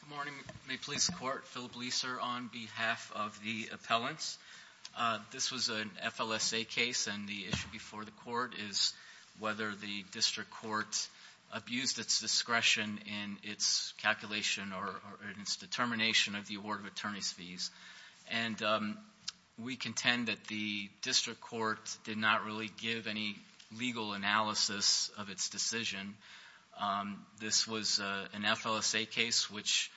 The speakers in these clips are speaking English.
Good morning. May it please the Court, Philip Leiser on behalf of the appellants. This was an FLSA case and the issue before the court is whether the district court abused its discretion in its calculation or in its determination of the award of attorney's fees. And we contend that the district court did not really give any legal analysis of its decision. This was an FLSA case which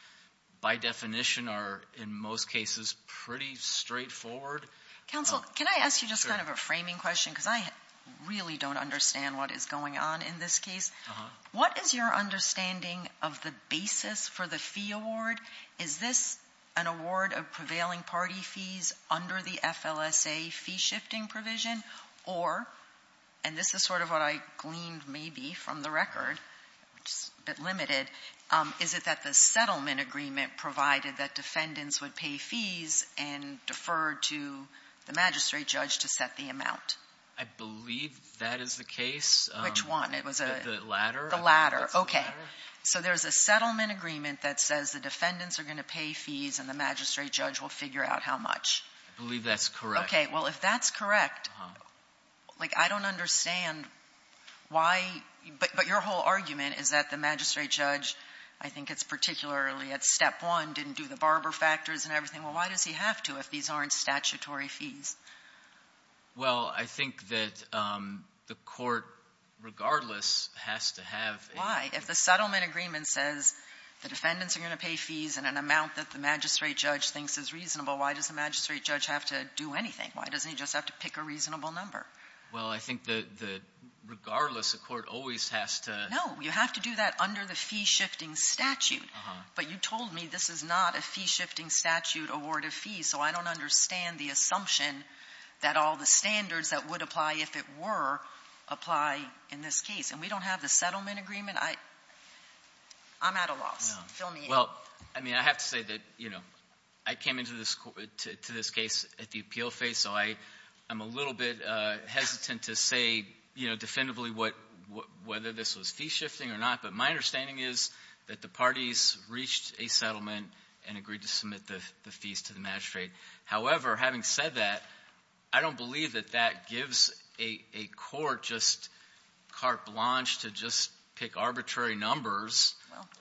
by definition are in most cases pretty straightforward. Counsel, can I ask you just kind of a framing question because I really don't understand what is going on in this case. What is your understanding of the basis for the fee award? Is this an award of prevailing party fees under the FLSA fee shifting provision or, and this is sort of what I gleaned maybe from the record, which is a bit limited, is it that the settlement agreement provided that defendants would pay fees and defer to the magistrate judge to set the amount? I believe that is the case. Which one? It was the latter. The latter. Okay. So there's a settlement agreement that says the defendants are going to pay fees and the magistrate judge will figure out how much. I believe that's correct. Well, if that's correct, I don't understand why, but your whole argument is that the magistrate judge, I think it's particularly at step one, didn't do the barber factors and everything. Well, why does he have to if these aren't statutory fees? Well, I think that the court regardless has to have a- Why? If the settlement agreement says the defendants are going to pay fees in an amount that the magistrate judge thinks is reasonable, why does the magistrate judge have to do anything? Why doesn't he just have to pick a reasonable number? Well, I think that regardless, the court always has to- No. You have to do that under the fee shifting statute. But you told me this is not a fee shifting statute award of fees, so I don't understand the assumption that all the standards that would apply if it were apply in this case. And we don't have the settlement agreement. I'm at a loss. Feel me? Well, I mean, I have to say that, you know, I came into this case at the appeal phase, so I'm a little bit hesitant to say, you know, definitively whether this was fee shifting or not, but my understanding is that the parties reached a settlement and agreed to submit the fees to the magistrate. However, having said that, I don't believe that that gives a court just carte blanche to just pick arbitrary numbers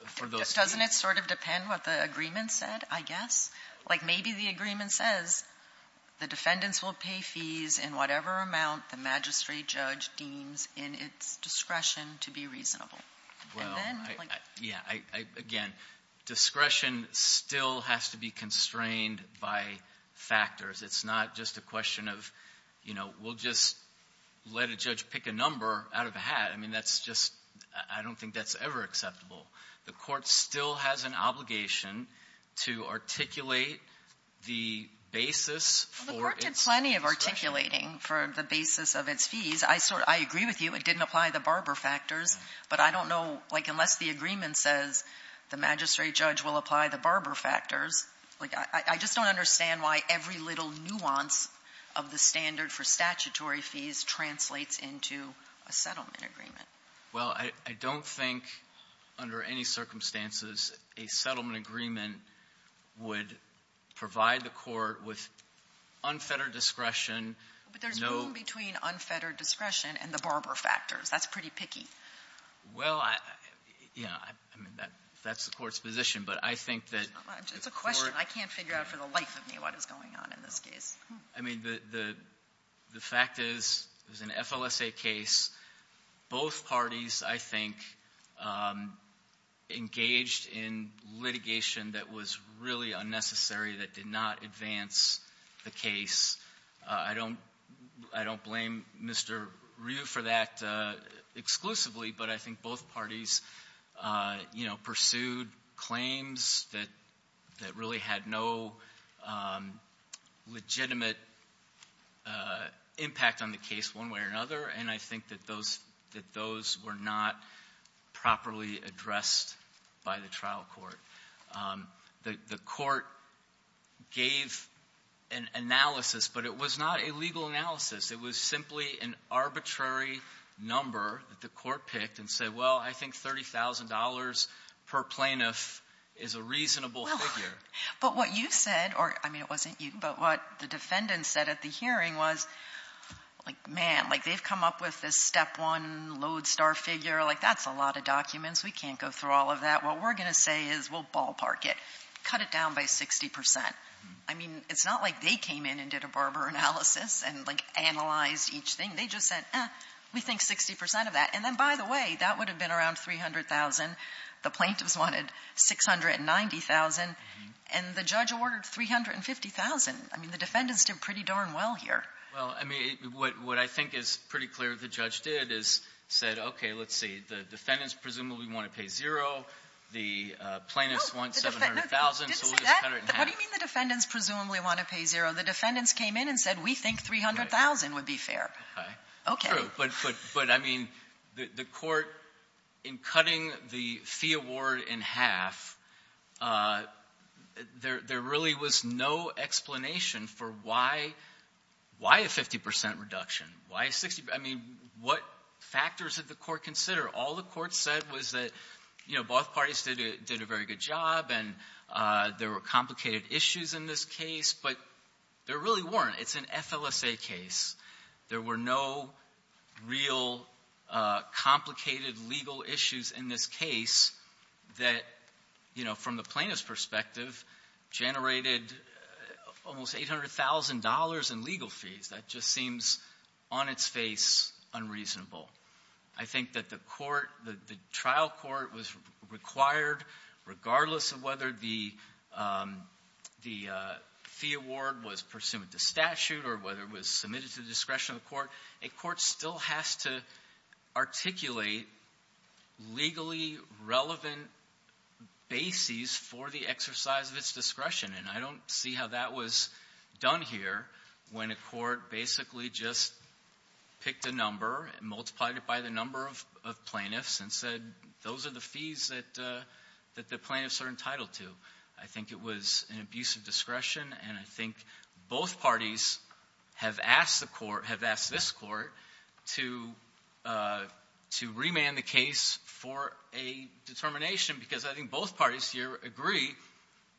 for those fees. Doesn't it sort of depend what the agreement said, I guess? Like, maybe the agreement says the defendants will pay fees in whatever amount the magistrate judge deems in its discretion to be reasonable. Well, yeah. Again, discretion still has to be constrained by factors. It's not just a question of, you know, we'll just let a judge pick a number out of a hat. I mean, that's just — I don't think that's ever acceptable. The court still has an obligation to articulate the basis for its discretion. Well, the court did plenty of articulating for the basis of its fees. I agree with you, it didn't apply the Barber factors, but I don't know — like, unless the agreement says the magistrate judge will apply the Barber factors, like, I just don't understand why every little nuance of the standard for statutory fees translates into a settlement agreement. Well, I don't think, under any circumstances, a settlement agreement would provide the court with unfettered discretion — But there's room between unfettered discretion and the Barber factors. That's pretty picky. Well, yeah, I mean, that's the court's position, but I think that — It's a question. I can't figure out for the life of me what is going on in this case. I mean, the fact is, it was an FLSA case. Both parties, I think, engaged in litigation that was really unnecessary that did not advance the case. I don't blame Mr. Ryu for that exclusively, but I think both parties, you know, pursued claims that really had no legitimate impact on the case one way or another, and I think that those were not properly addressed by the trial court. The court gave an analysis, but it was not a legal analysis. It was simply an arbitrary number that the court picked and said, well, I think $30,000 per plaintiff is a reasonable figure. But what you said — or, I mean, it wasn't you, but what the defendant said at the hearing was, like, man, like, they've come up with this step one, lodestar figure. Like, that's a lot of documents. We can't go through all of that. What we're going to say is we'll ballpark it, cut it down by 60 percent. I mean, it's not like they came in and did a Barber analysis and, like, analyzed each thing. They just said, eh, we think 60 percent of that. And then, by the way, that would have been around $300,000. The plaintiffs wanted $690,000, and the judge awarded $350,000. I mean, the defendants did pretty darn well here. MR. GOLDSTEIN. Well, I mean, what I think is pretty clear the judge did is said, okay, let's see, the defendants presumably want to pay zero. The plaintiffs want $700,000, so we'll just cut it in half. MS. MCCARTY. What do you mean the defendants presumably want to pay zero? The defendants came in and said, we think $300,000 would be fair. MR. GOLDSTEIN. True. But, I mean, the Court, in cutting the fee award in half, there really was no explanation for why a 50 percent reduction, why a 60 percent. I mean, what factors did the Court consider? All the Court said was that, you know, both parties did a very good job, and there were complicated issues in this case, but there really weren't. It's an FLSA case. There were no real complicated legal issues in this case that, you know, from the plaintiff's perspective generated almost $800,000 in legal fees. That just seems on its face unreasonable. I think that the Court, the trial Court was required, regardless of whether the fee award was pursuant to statute or whether it was submitted to the discretion of the Court, a Court still has to articulate legally relevant bases for the exercise of its discretion, and I don't see how that was done here when a Court basically just picked a number and multiplied it by the number of plaintiffs and said, those are the fees that the plaintiffs are entitled to. I think it was an abuse of discretion, and I think both parties have asked the Court, have asked this Court to remand the case for a determination, because I think both parties here agree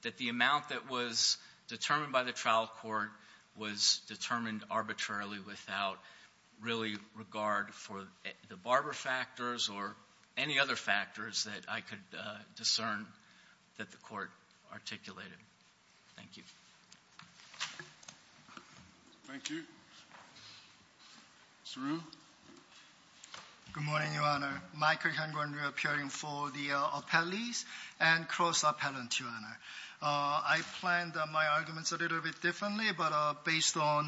that the amount that was determined by the trial Court was determined arbitrarily without really regard for the Barber factors or any other factors that I could discern that the Court articulated. Thank you. Thank you. Saru? Good morning, Your Honor. Michael Hyun-Kwon, reappearing for the appellees and cross-appellant, Your Honor. I planned my arguments a little bit differently, but based on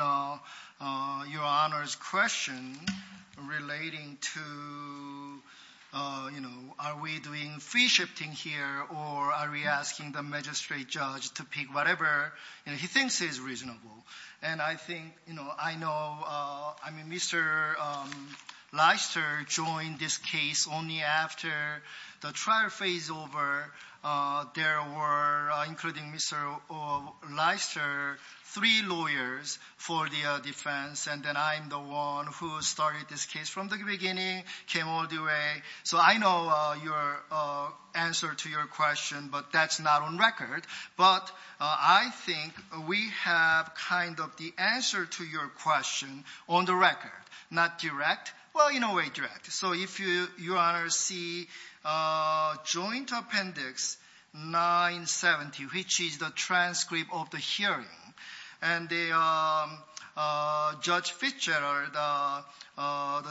Your Honor's question relating to, you know, are we doing fee shifting here, or are we asking the magistrate judge to pick whatever, you know, he thinks is reasonable. And I think, you know, I know, I mean, Mr. Leister joined this case only after the trial phase over. There were, including Mr. Leister, three lawyers for the defense, and then I'm the one who started this case from the beginning, came all the way. So I know your answer to your question, but that's not on record. But I think we have kind of the answer to your question on the record, not direct. Well, in a way, direct. So if Your Honor see Joint Appendix 970, which is the transcript of the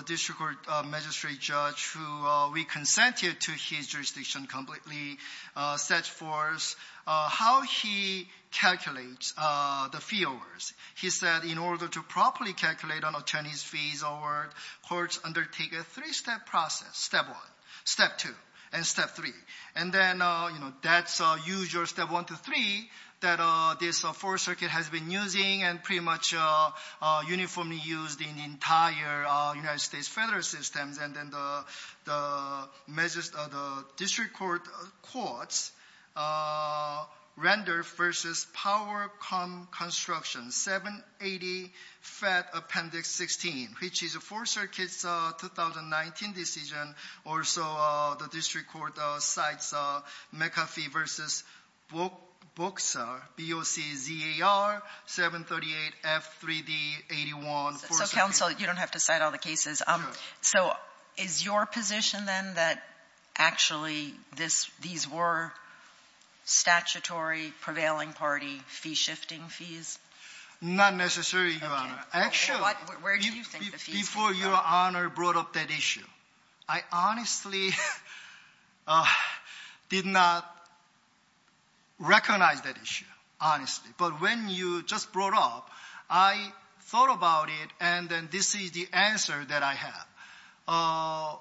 district court magistrate judge, who we consented to his jurisdiction completely, sets forth how he calculates the fee awards. He said in order to properly calculate an attorney's fees award, courts undertake a three-step process, step one, step two, and step three. And then, you know, that's usual step one to three that this Fourth Circuit has been using and pretty much uniformly used in entire United States federal systems. And then the district court courts render versus power cum construction 780 Fed Appendix 16, which is a Fourth Circuit's 3D81. So counsel, you don't have to cite all the cases. So is your position then that actually these were statutory prevailing party fee shifting fees? Not necessarily, Your Honor. Actually, before Your Honor brought up that issue, I honestly did not recognize that issue, honestly. But when you just brought up, I thought about it, and then this is the answer that I have.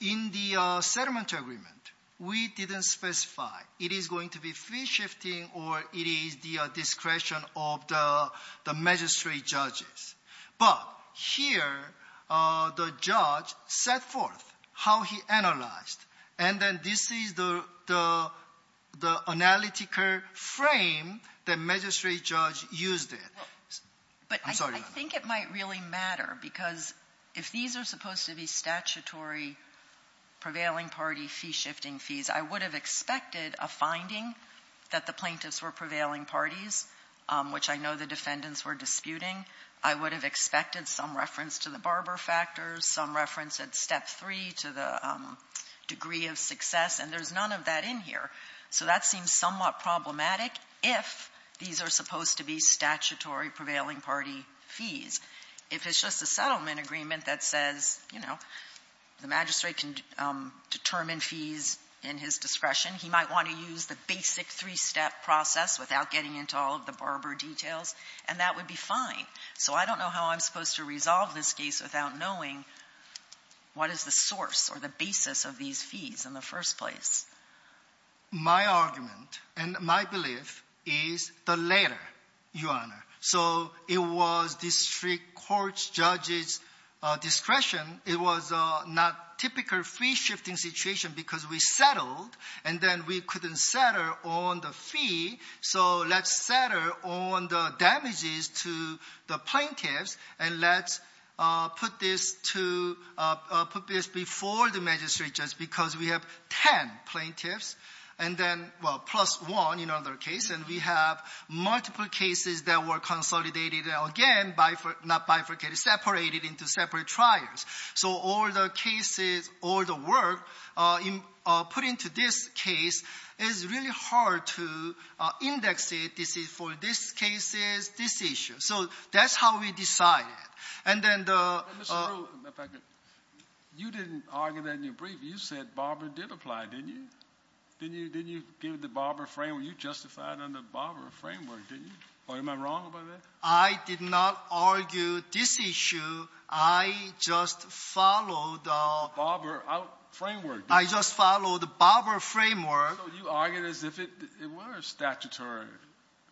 In the settlement agreement, we didn't specify it is going to be fee shifting or it is the discretion of the magistrate judges. But here, the judge set forth how he analyzed. And then this is the analytical frame that magistrate judge used it. Well, but I think it might really matter, because if these are supposed to be statutory prevailing party fee shifting fees, I would have expected a finding that the plaintiffs were prevailing parties, which I know the defendants were disputing. I would have expected some reference to the barber factors, some reference at Step 3 to the degree of success, and there's none of that in here. So that seems somewhat problematic if these are supposed to be statutory prevailing party fees. If it's just a settlement agreement that says, you know, the magistrate can determine fees in his discretion, he might want to use the basic three-step process without getting into all of the barber details, and that would be fine. So I don't know how I'm supposed to resolve this case without knowing what is the source or the basis of these fees in the first place. My argument and my belief is the latter, Your Honor. So it was district court judges' discretion. It was not typical fee shifting situation, because we settled, and then we couldn't settle on the fee. So let's settle on the damages to the plaintiffs, and let's put this to – put this before the magistrates, just because we have 10 plaintiffs, and then, well, plus one in another case, and we have multiple cases that were consolidated, again, not bifurcated, separated into separate trials. So all the cases, all the work put into this case, it's really hard to index it for this case's this issue. So that's how we decided. And then the – But, Mr. Ruehl, if I could, you didn't argue that in your brief. You said barber did apply, didn't you? Didn't you give the barber framework? You justified under barber framework, didn't you? Or am I wrong about that? I did not argue this issue. I just followed the – Barber out framework, didn't you? I just followed the barber framework. So you argued as if it were a statutory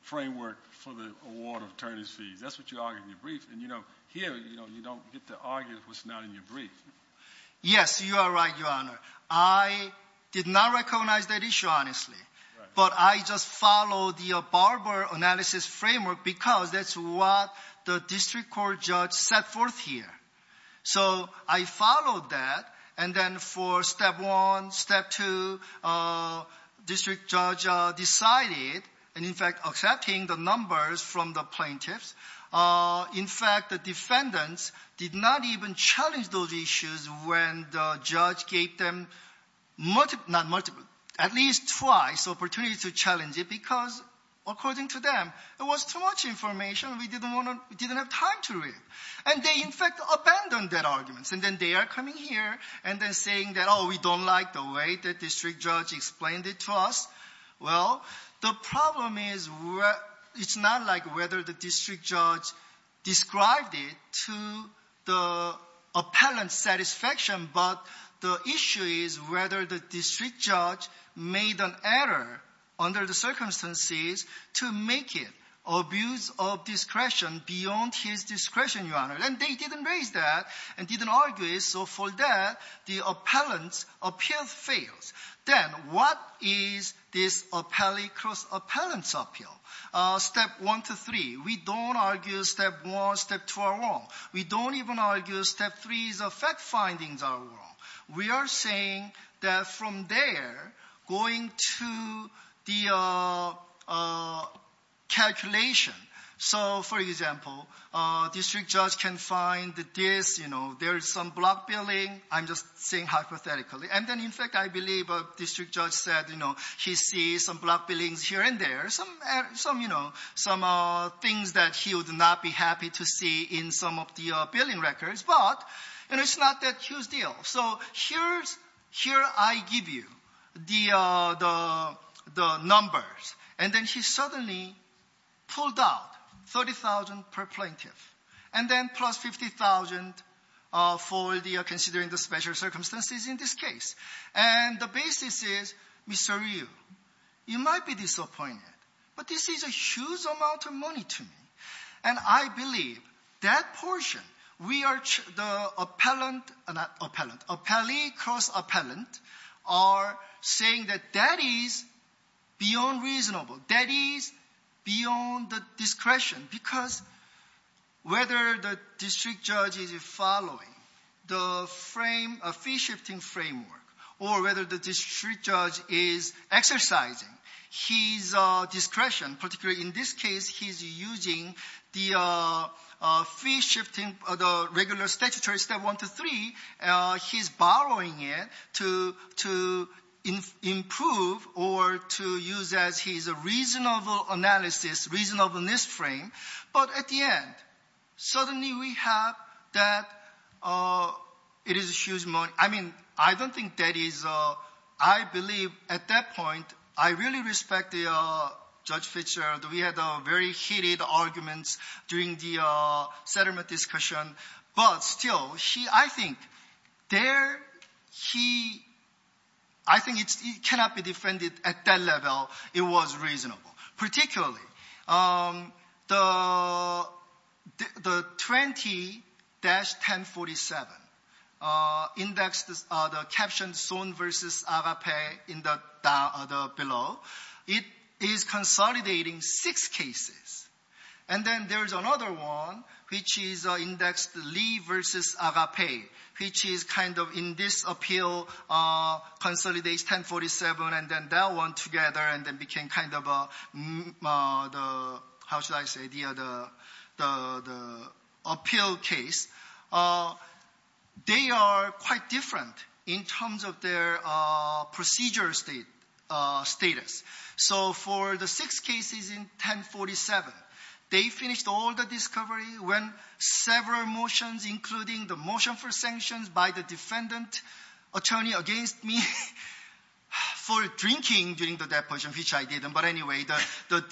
framework for the award of attorneys' fees. That's what you argued in your brief. And, you know, here, you don't get to argue what's not in your brief. Yes, you are right, Your Honor. I did not recognize that issue, honestly. Right. But I just followed the barber analysis framework because that's what the district court judge set forth here. So I followed that. And then for step one, step two, district judge decided, and in fact accepting the numbers from the plaintiffs, in fact, the defendants did not even challenge those issues when the judge gave them multiple – not multiple, at least twice opportunity to challenge it because, according to them, it was too much information. We didn't have time to read. And they, in fact, abandoned that argument. And then they are coming here and then saying that, oh, we don't like the way the district judge explained it to us. Well, the problem is it's not like whether the district judge described it to the appellant's satisfaction, but the issue is whether the district judge made an error under the circumstances to make it abuse of discretion beyond his discretion, Your Honor. And they didn't raise that and didn't argue it. So for that, the appellant's appeal fails. Then what is this appellee cross appellant's appeal? Step one to three, we don't argue step one, step two are wrong. We don't even argue step three's fact findings are wrong. We are saying that from there, going to the calculation. So, for example, district judge can find this, you know, there is some block billing. I'm just saying hypothetically. And then, in fact, I believe a district judge said, you know, he sees some block billings here and there, some, you know, some things that he would not be happy to see in some of the billing records. But, you know, it's not that huge deal. So here I give you the numbers. And then he suddenly pulled out $30,000 per plaintiff. And then plus $50,000 for considering the special circumstances in this case. And the basis is, Mr. Ryu, you might be disappointed, but this is a huge amount of money to me. And I believe that portion, we are, the appellant, not appellant, appellee cross appellant are saying that that is beyond reasonable. That is beyond the discretion. Because whether the district judge is following the frame, a fee shifting framework, or whether the district judge is exercising his discretion, particularly in this case he's using the fee shifting, the regular statutory step one to three, he's borrowing it to improve or to use as his reasonable analysis, reasonableness frame. But at the end, suddenly we have that it is a huge money. I mean, I don't think that is, I believe at that point, I really respect Judge Fitzgerald. We had very heated arguments during the settlement discussion. But still, he, I think, there he, I think it cannot be defended at that level it was reasonable. Particularly the 20-1047 indexed, the captioned Sohn versus Agape in the below, it is consolidating six cases. And then there's another one, which is indexed Lee versus Agape, which is kind of in this appeal, consolidates 1047 and then that one together and then became kind of the, how should I say, the appeal case. They are quite different in terms of their procedure status. So for the six cases in 1047, they finished all the discovery when several motions, including the motion for sanctions by the defendant attorney against me for drinking during the deposition, which I didn't, but anyway, the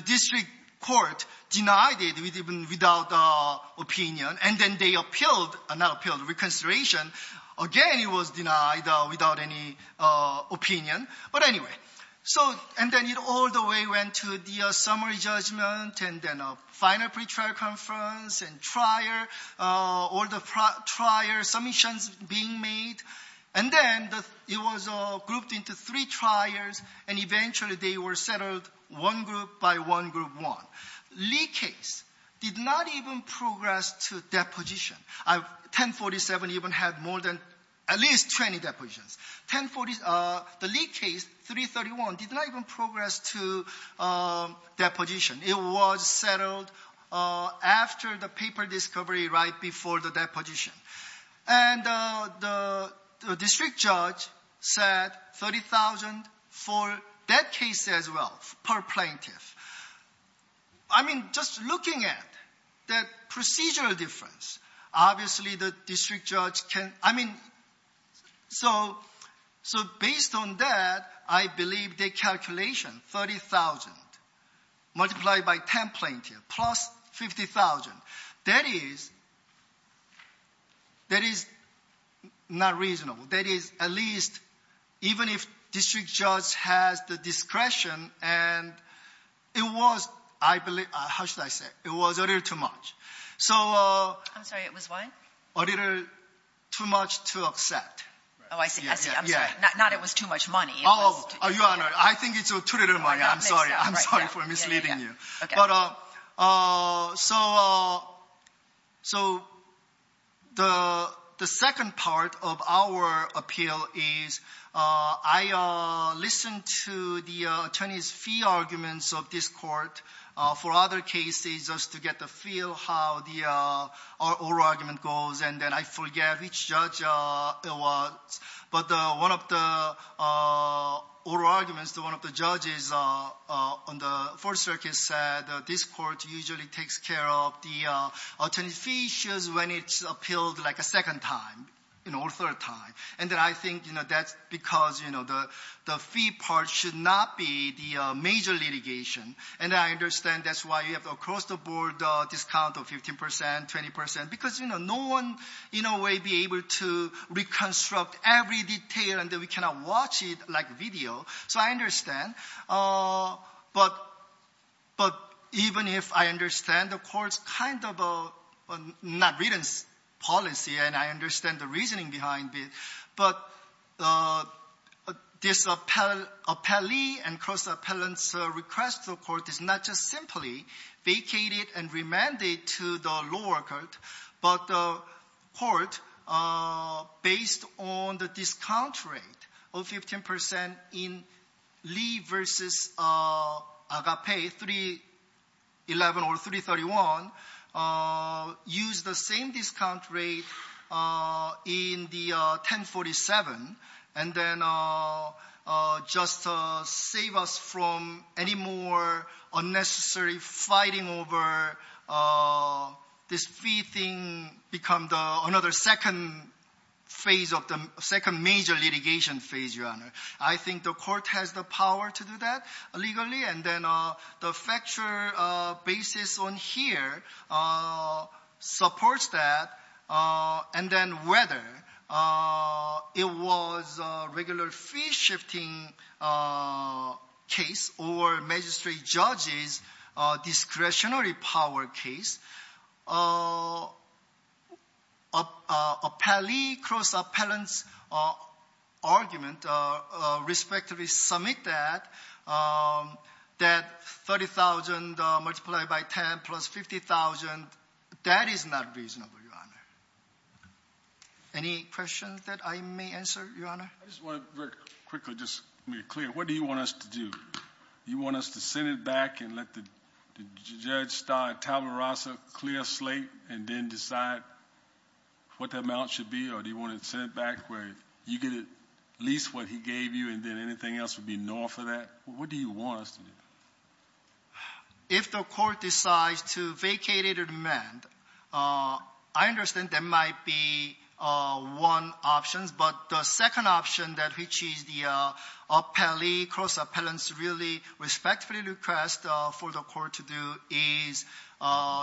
district court denied it even without opinion. And then they appealed, not appealed, reconsideration. Again, it was denied without any opinion. But anyway, and then it all the way went to the summary judgment and then a final pre-trial conference and trial, all the trial submissions being made. And then it was grouped into three trials and eventually they were settled one group by one group one. Lee case did not even progress to deposition. 1047 even had more than at least 20 depositions. The Lee case, 331, did not even progress to deposition. It was settled after the paper discovery right before the deposition. And the district judge said 30,000 for that case as well per plaintiff. I mean, just looking at that procedural difference, obviously the district judge can, I mean, so based on that, I believe the calculation, 30,000 multiplied by 10 plaintiffs plus 50,000, that is that is not reasonable. That is at least even if district judge has the discretion and it was, I believe, how should I say, it was a little too much. So, I'm sorry, it was what? A little too much to accept. Oh, I see. I see. I'm sorry. Not it was too much money. Oh, Your Honor, I think it's too little money. I'm sorry. I'm sorry for misleading you. But, so the second part of our appeal is I listened to the attorney's fee arguments of this court for other cases just to get the feel how the oral argument goes and then I forget which judge it usually takes care of the attorney's fee issues when it's appealed like a second time, you know, or third time. And then I think, you know, that's because, you know, the fee part should not be the major litigation. And I understand that's why you have across the board discount of 15 percent, 20 percent, because, you know, no one in a way be able to reconstruct every detail and then we cannot watch it like video. So, I understand. But even if I understand the court's kind of not written policy and I understand the reasoning behind it, but this appellee and cross-appellant's request to the court is not just simply vacated and the discount rate of 15 percent in Lee versus Agape, 311 or 331, use the same discount rate in the 1047 and then just save us from any more unnecessary fighting over this fee thing become another second phase of the second major litigation phase, your honor. I think the court has the power to do that legally and then the factual basis on here supports that. And then whether it was a regular fee shifting case or magistrate judges discretionary power case, appellee cross-appellant's argument respectively submit that that 30,000 multiplied by 10 plus 50,000, that is not reasonable, your honor. Any questions that I may answer, your honor? I just want to very quickly just be clear. What do you want us to do? You want us to send it back and let the judge start tabula rasa, clear slate and then decide what the amount should be or do you want to send it back where you get at least what he gave you and then anything else would be no for that? What do you want us to do? If the court decides to vacate it or demand, I understand there might be one option, but the respectfully request for the court to do is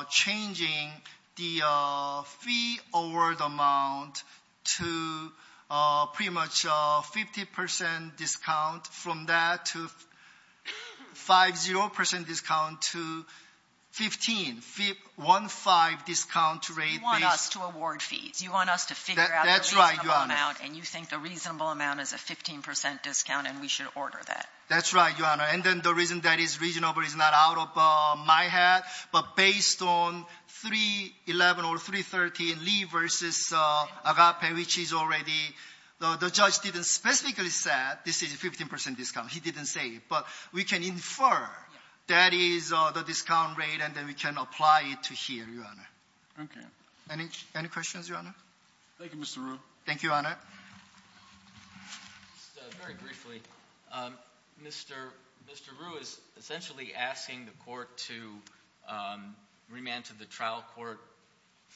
changing the fee award amount to pretty much 50% discount from that to 5-0% discount to 15, 1-5 discount rate. You want us to award fees. You want us to figure out the reasonable amount and you think the reasonable amount is a 15% discount and we should order that. That's right, your honor. And then the reason that is reasonable is not out of my head, but based on 311 or 313 Lee versus Agape, which is already, the judge didn't specifically say this is a 15% discount. He didn't say it, but we can infer that is the discount rate and then we can apply it to here, your honor. Okay. Any questions, your honor? Thank you, Mr. Ryu. Thank you, your honor. Just very briefly, Mr. Ryu is essentially asking the court to remand to the trial court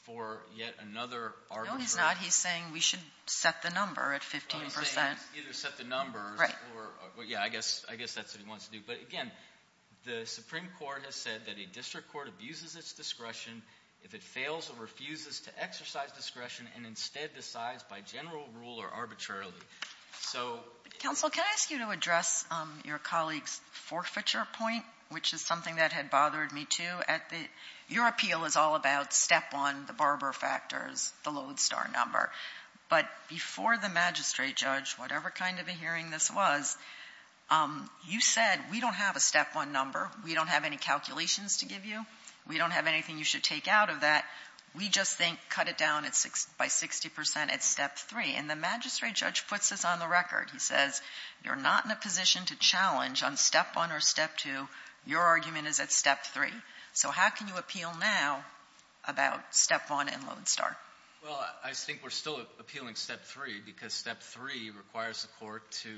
for yet another argument. No, he's not. He's saying we should set the number at 15%. He's saying either set the number or, yeah, I guess that's what he wants to do. But again, the Supreme Court has said that a district court abuses its discretion if it fails or refuses to arbitrarily. Counsel, can I ask you to address your colleague's forfeiture point, which is something that had bothered me too. Your appeal is all about step one, the barber factors, the Lodestar number. But before the magistrate judge, whatever kind of a hearing this was, you said, we don't have a step one number. We don't have any calculations to give you. We don't have anything you should take out of that. We just think cut it down by 60% at step three. And the magistrate judge puts this on the record. He says, you're not in a position to challenge on step one or step two. Your argument is at step three. So how can you appeal now about step one and Lodestar? Well, I think we're still appealing step three because step three requires the court to...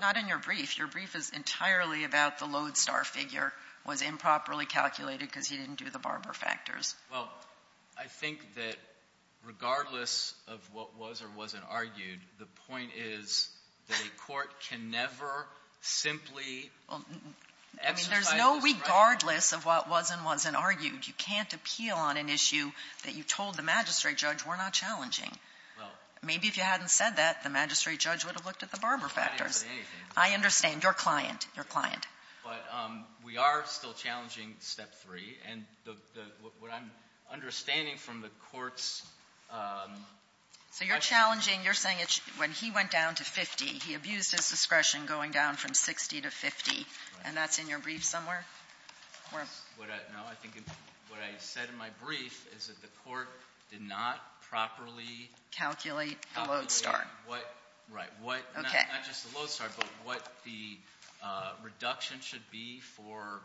Not in your brief. Your brief is entirely about the Lodestar figure was improperly calculated because he didn't do the barber factors. Well, I think that regardless of what was or wasn't argued, the point is that a court can never simply... I mean, there's no regardless of what was and wasn't argued. You can't appeal on an issue that you told the magistrate judge were not challenging. Maybe if you hadn't said that, the magistrate judge would have looked at the barber factors. I understand. Your client, your client. But we are still challenging step three. And what I'm understanding from the court's... So you're challenging, you're saying when he went down to 50, he abused his discretion going down from 60 to 50. And that's in your brief somewhere? What I said in my brief is that the court did not properly... Calculate the Lodestar. Right. Not just the Lodestar, but what the reduction should be for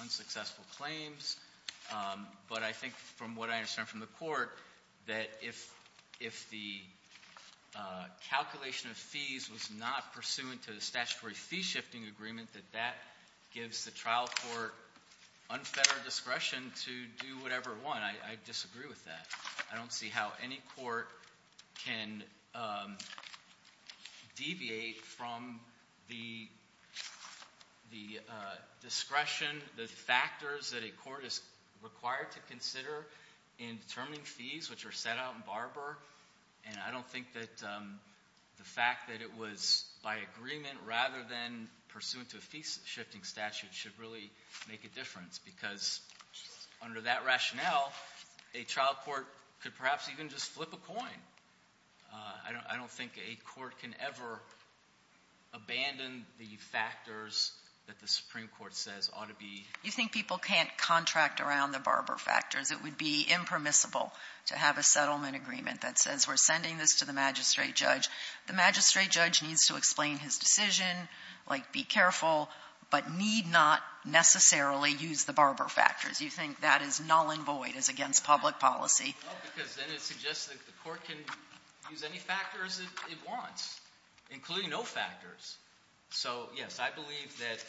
unsuccessful claims. But I think from what I understand from the court, that if the calculation of fees was not pursuant to the statutory fee shifting agreement, that that gives the trial court unfettered discretion to do whatever it want. I disagree with that. I don't see how any court can deviate from the discretion, the factors that a court is required to consider in determining fees, which are set out in barber. And I don't think that the fact that it was by agreement rather than pursuant to a fee shifting statute should really make a difference because under that rationale, a trial court could perhaps even just flip a coin. I don't think a court can ever abandon the factors that the Supreme Court says ought to be... You think people can't contract around the barber factors. It would be impermissible to have a settlement agreement that says we're sending this to the magistrate judge. The magistrate judge needs to explain his decision, like be careful, but need not necessarily use the barber factors. You think that is null and void, is against public policy. Because then it suggests that the court can use any factors it wants, including no factors. So, yes, I believe that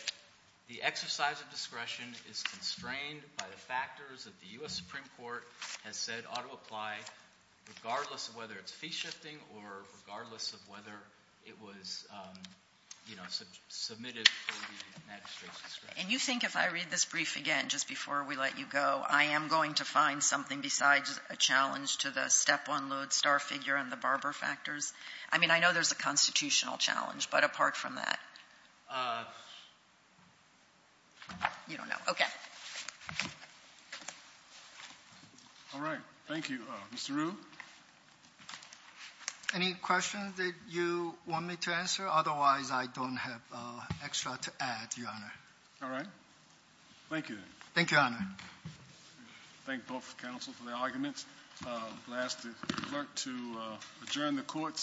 the exercise of discretion is constrained by the factors that the U.S. Supreme Court has said ought to apply regardless of whether it's fee shifting or regardless of whether it was submitted to the magistrate's discretion. And you think if I read this brief again, just before we let you go, I am going to find something besides a challenge to the step one load star figure and the barber factors? I mean, I know there's a constitutional challenge, but apart from that... You don't know. Okay. All right. Thank you. Mr. Ryu? Any questions that you want me to answer? Otherwise, I don't have extra to add, Your Honor. Thank you, Your Honor. Thank both counsels for their arguments. I will ask the clerk to adjourn the court.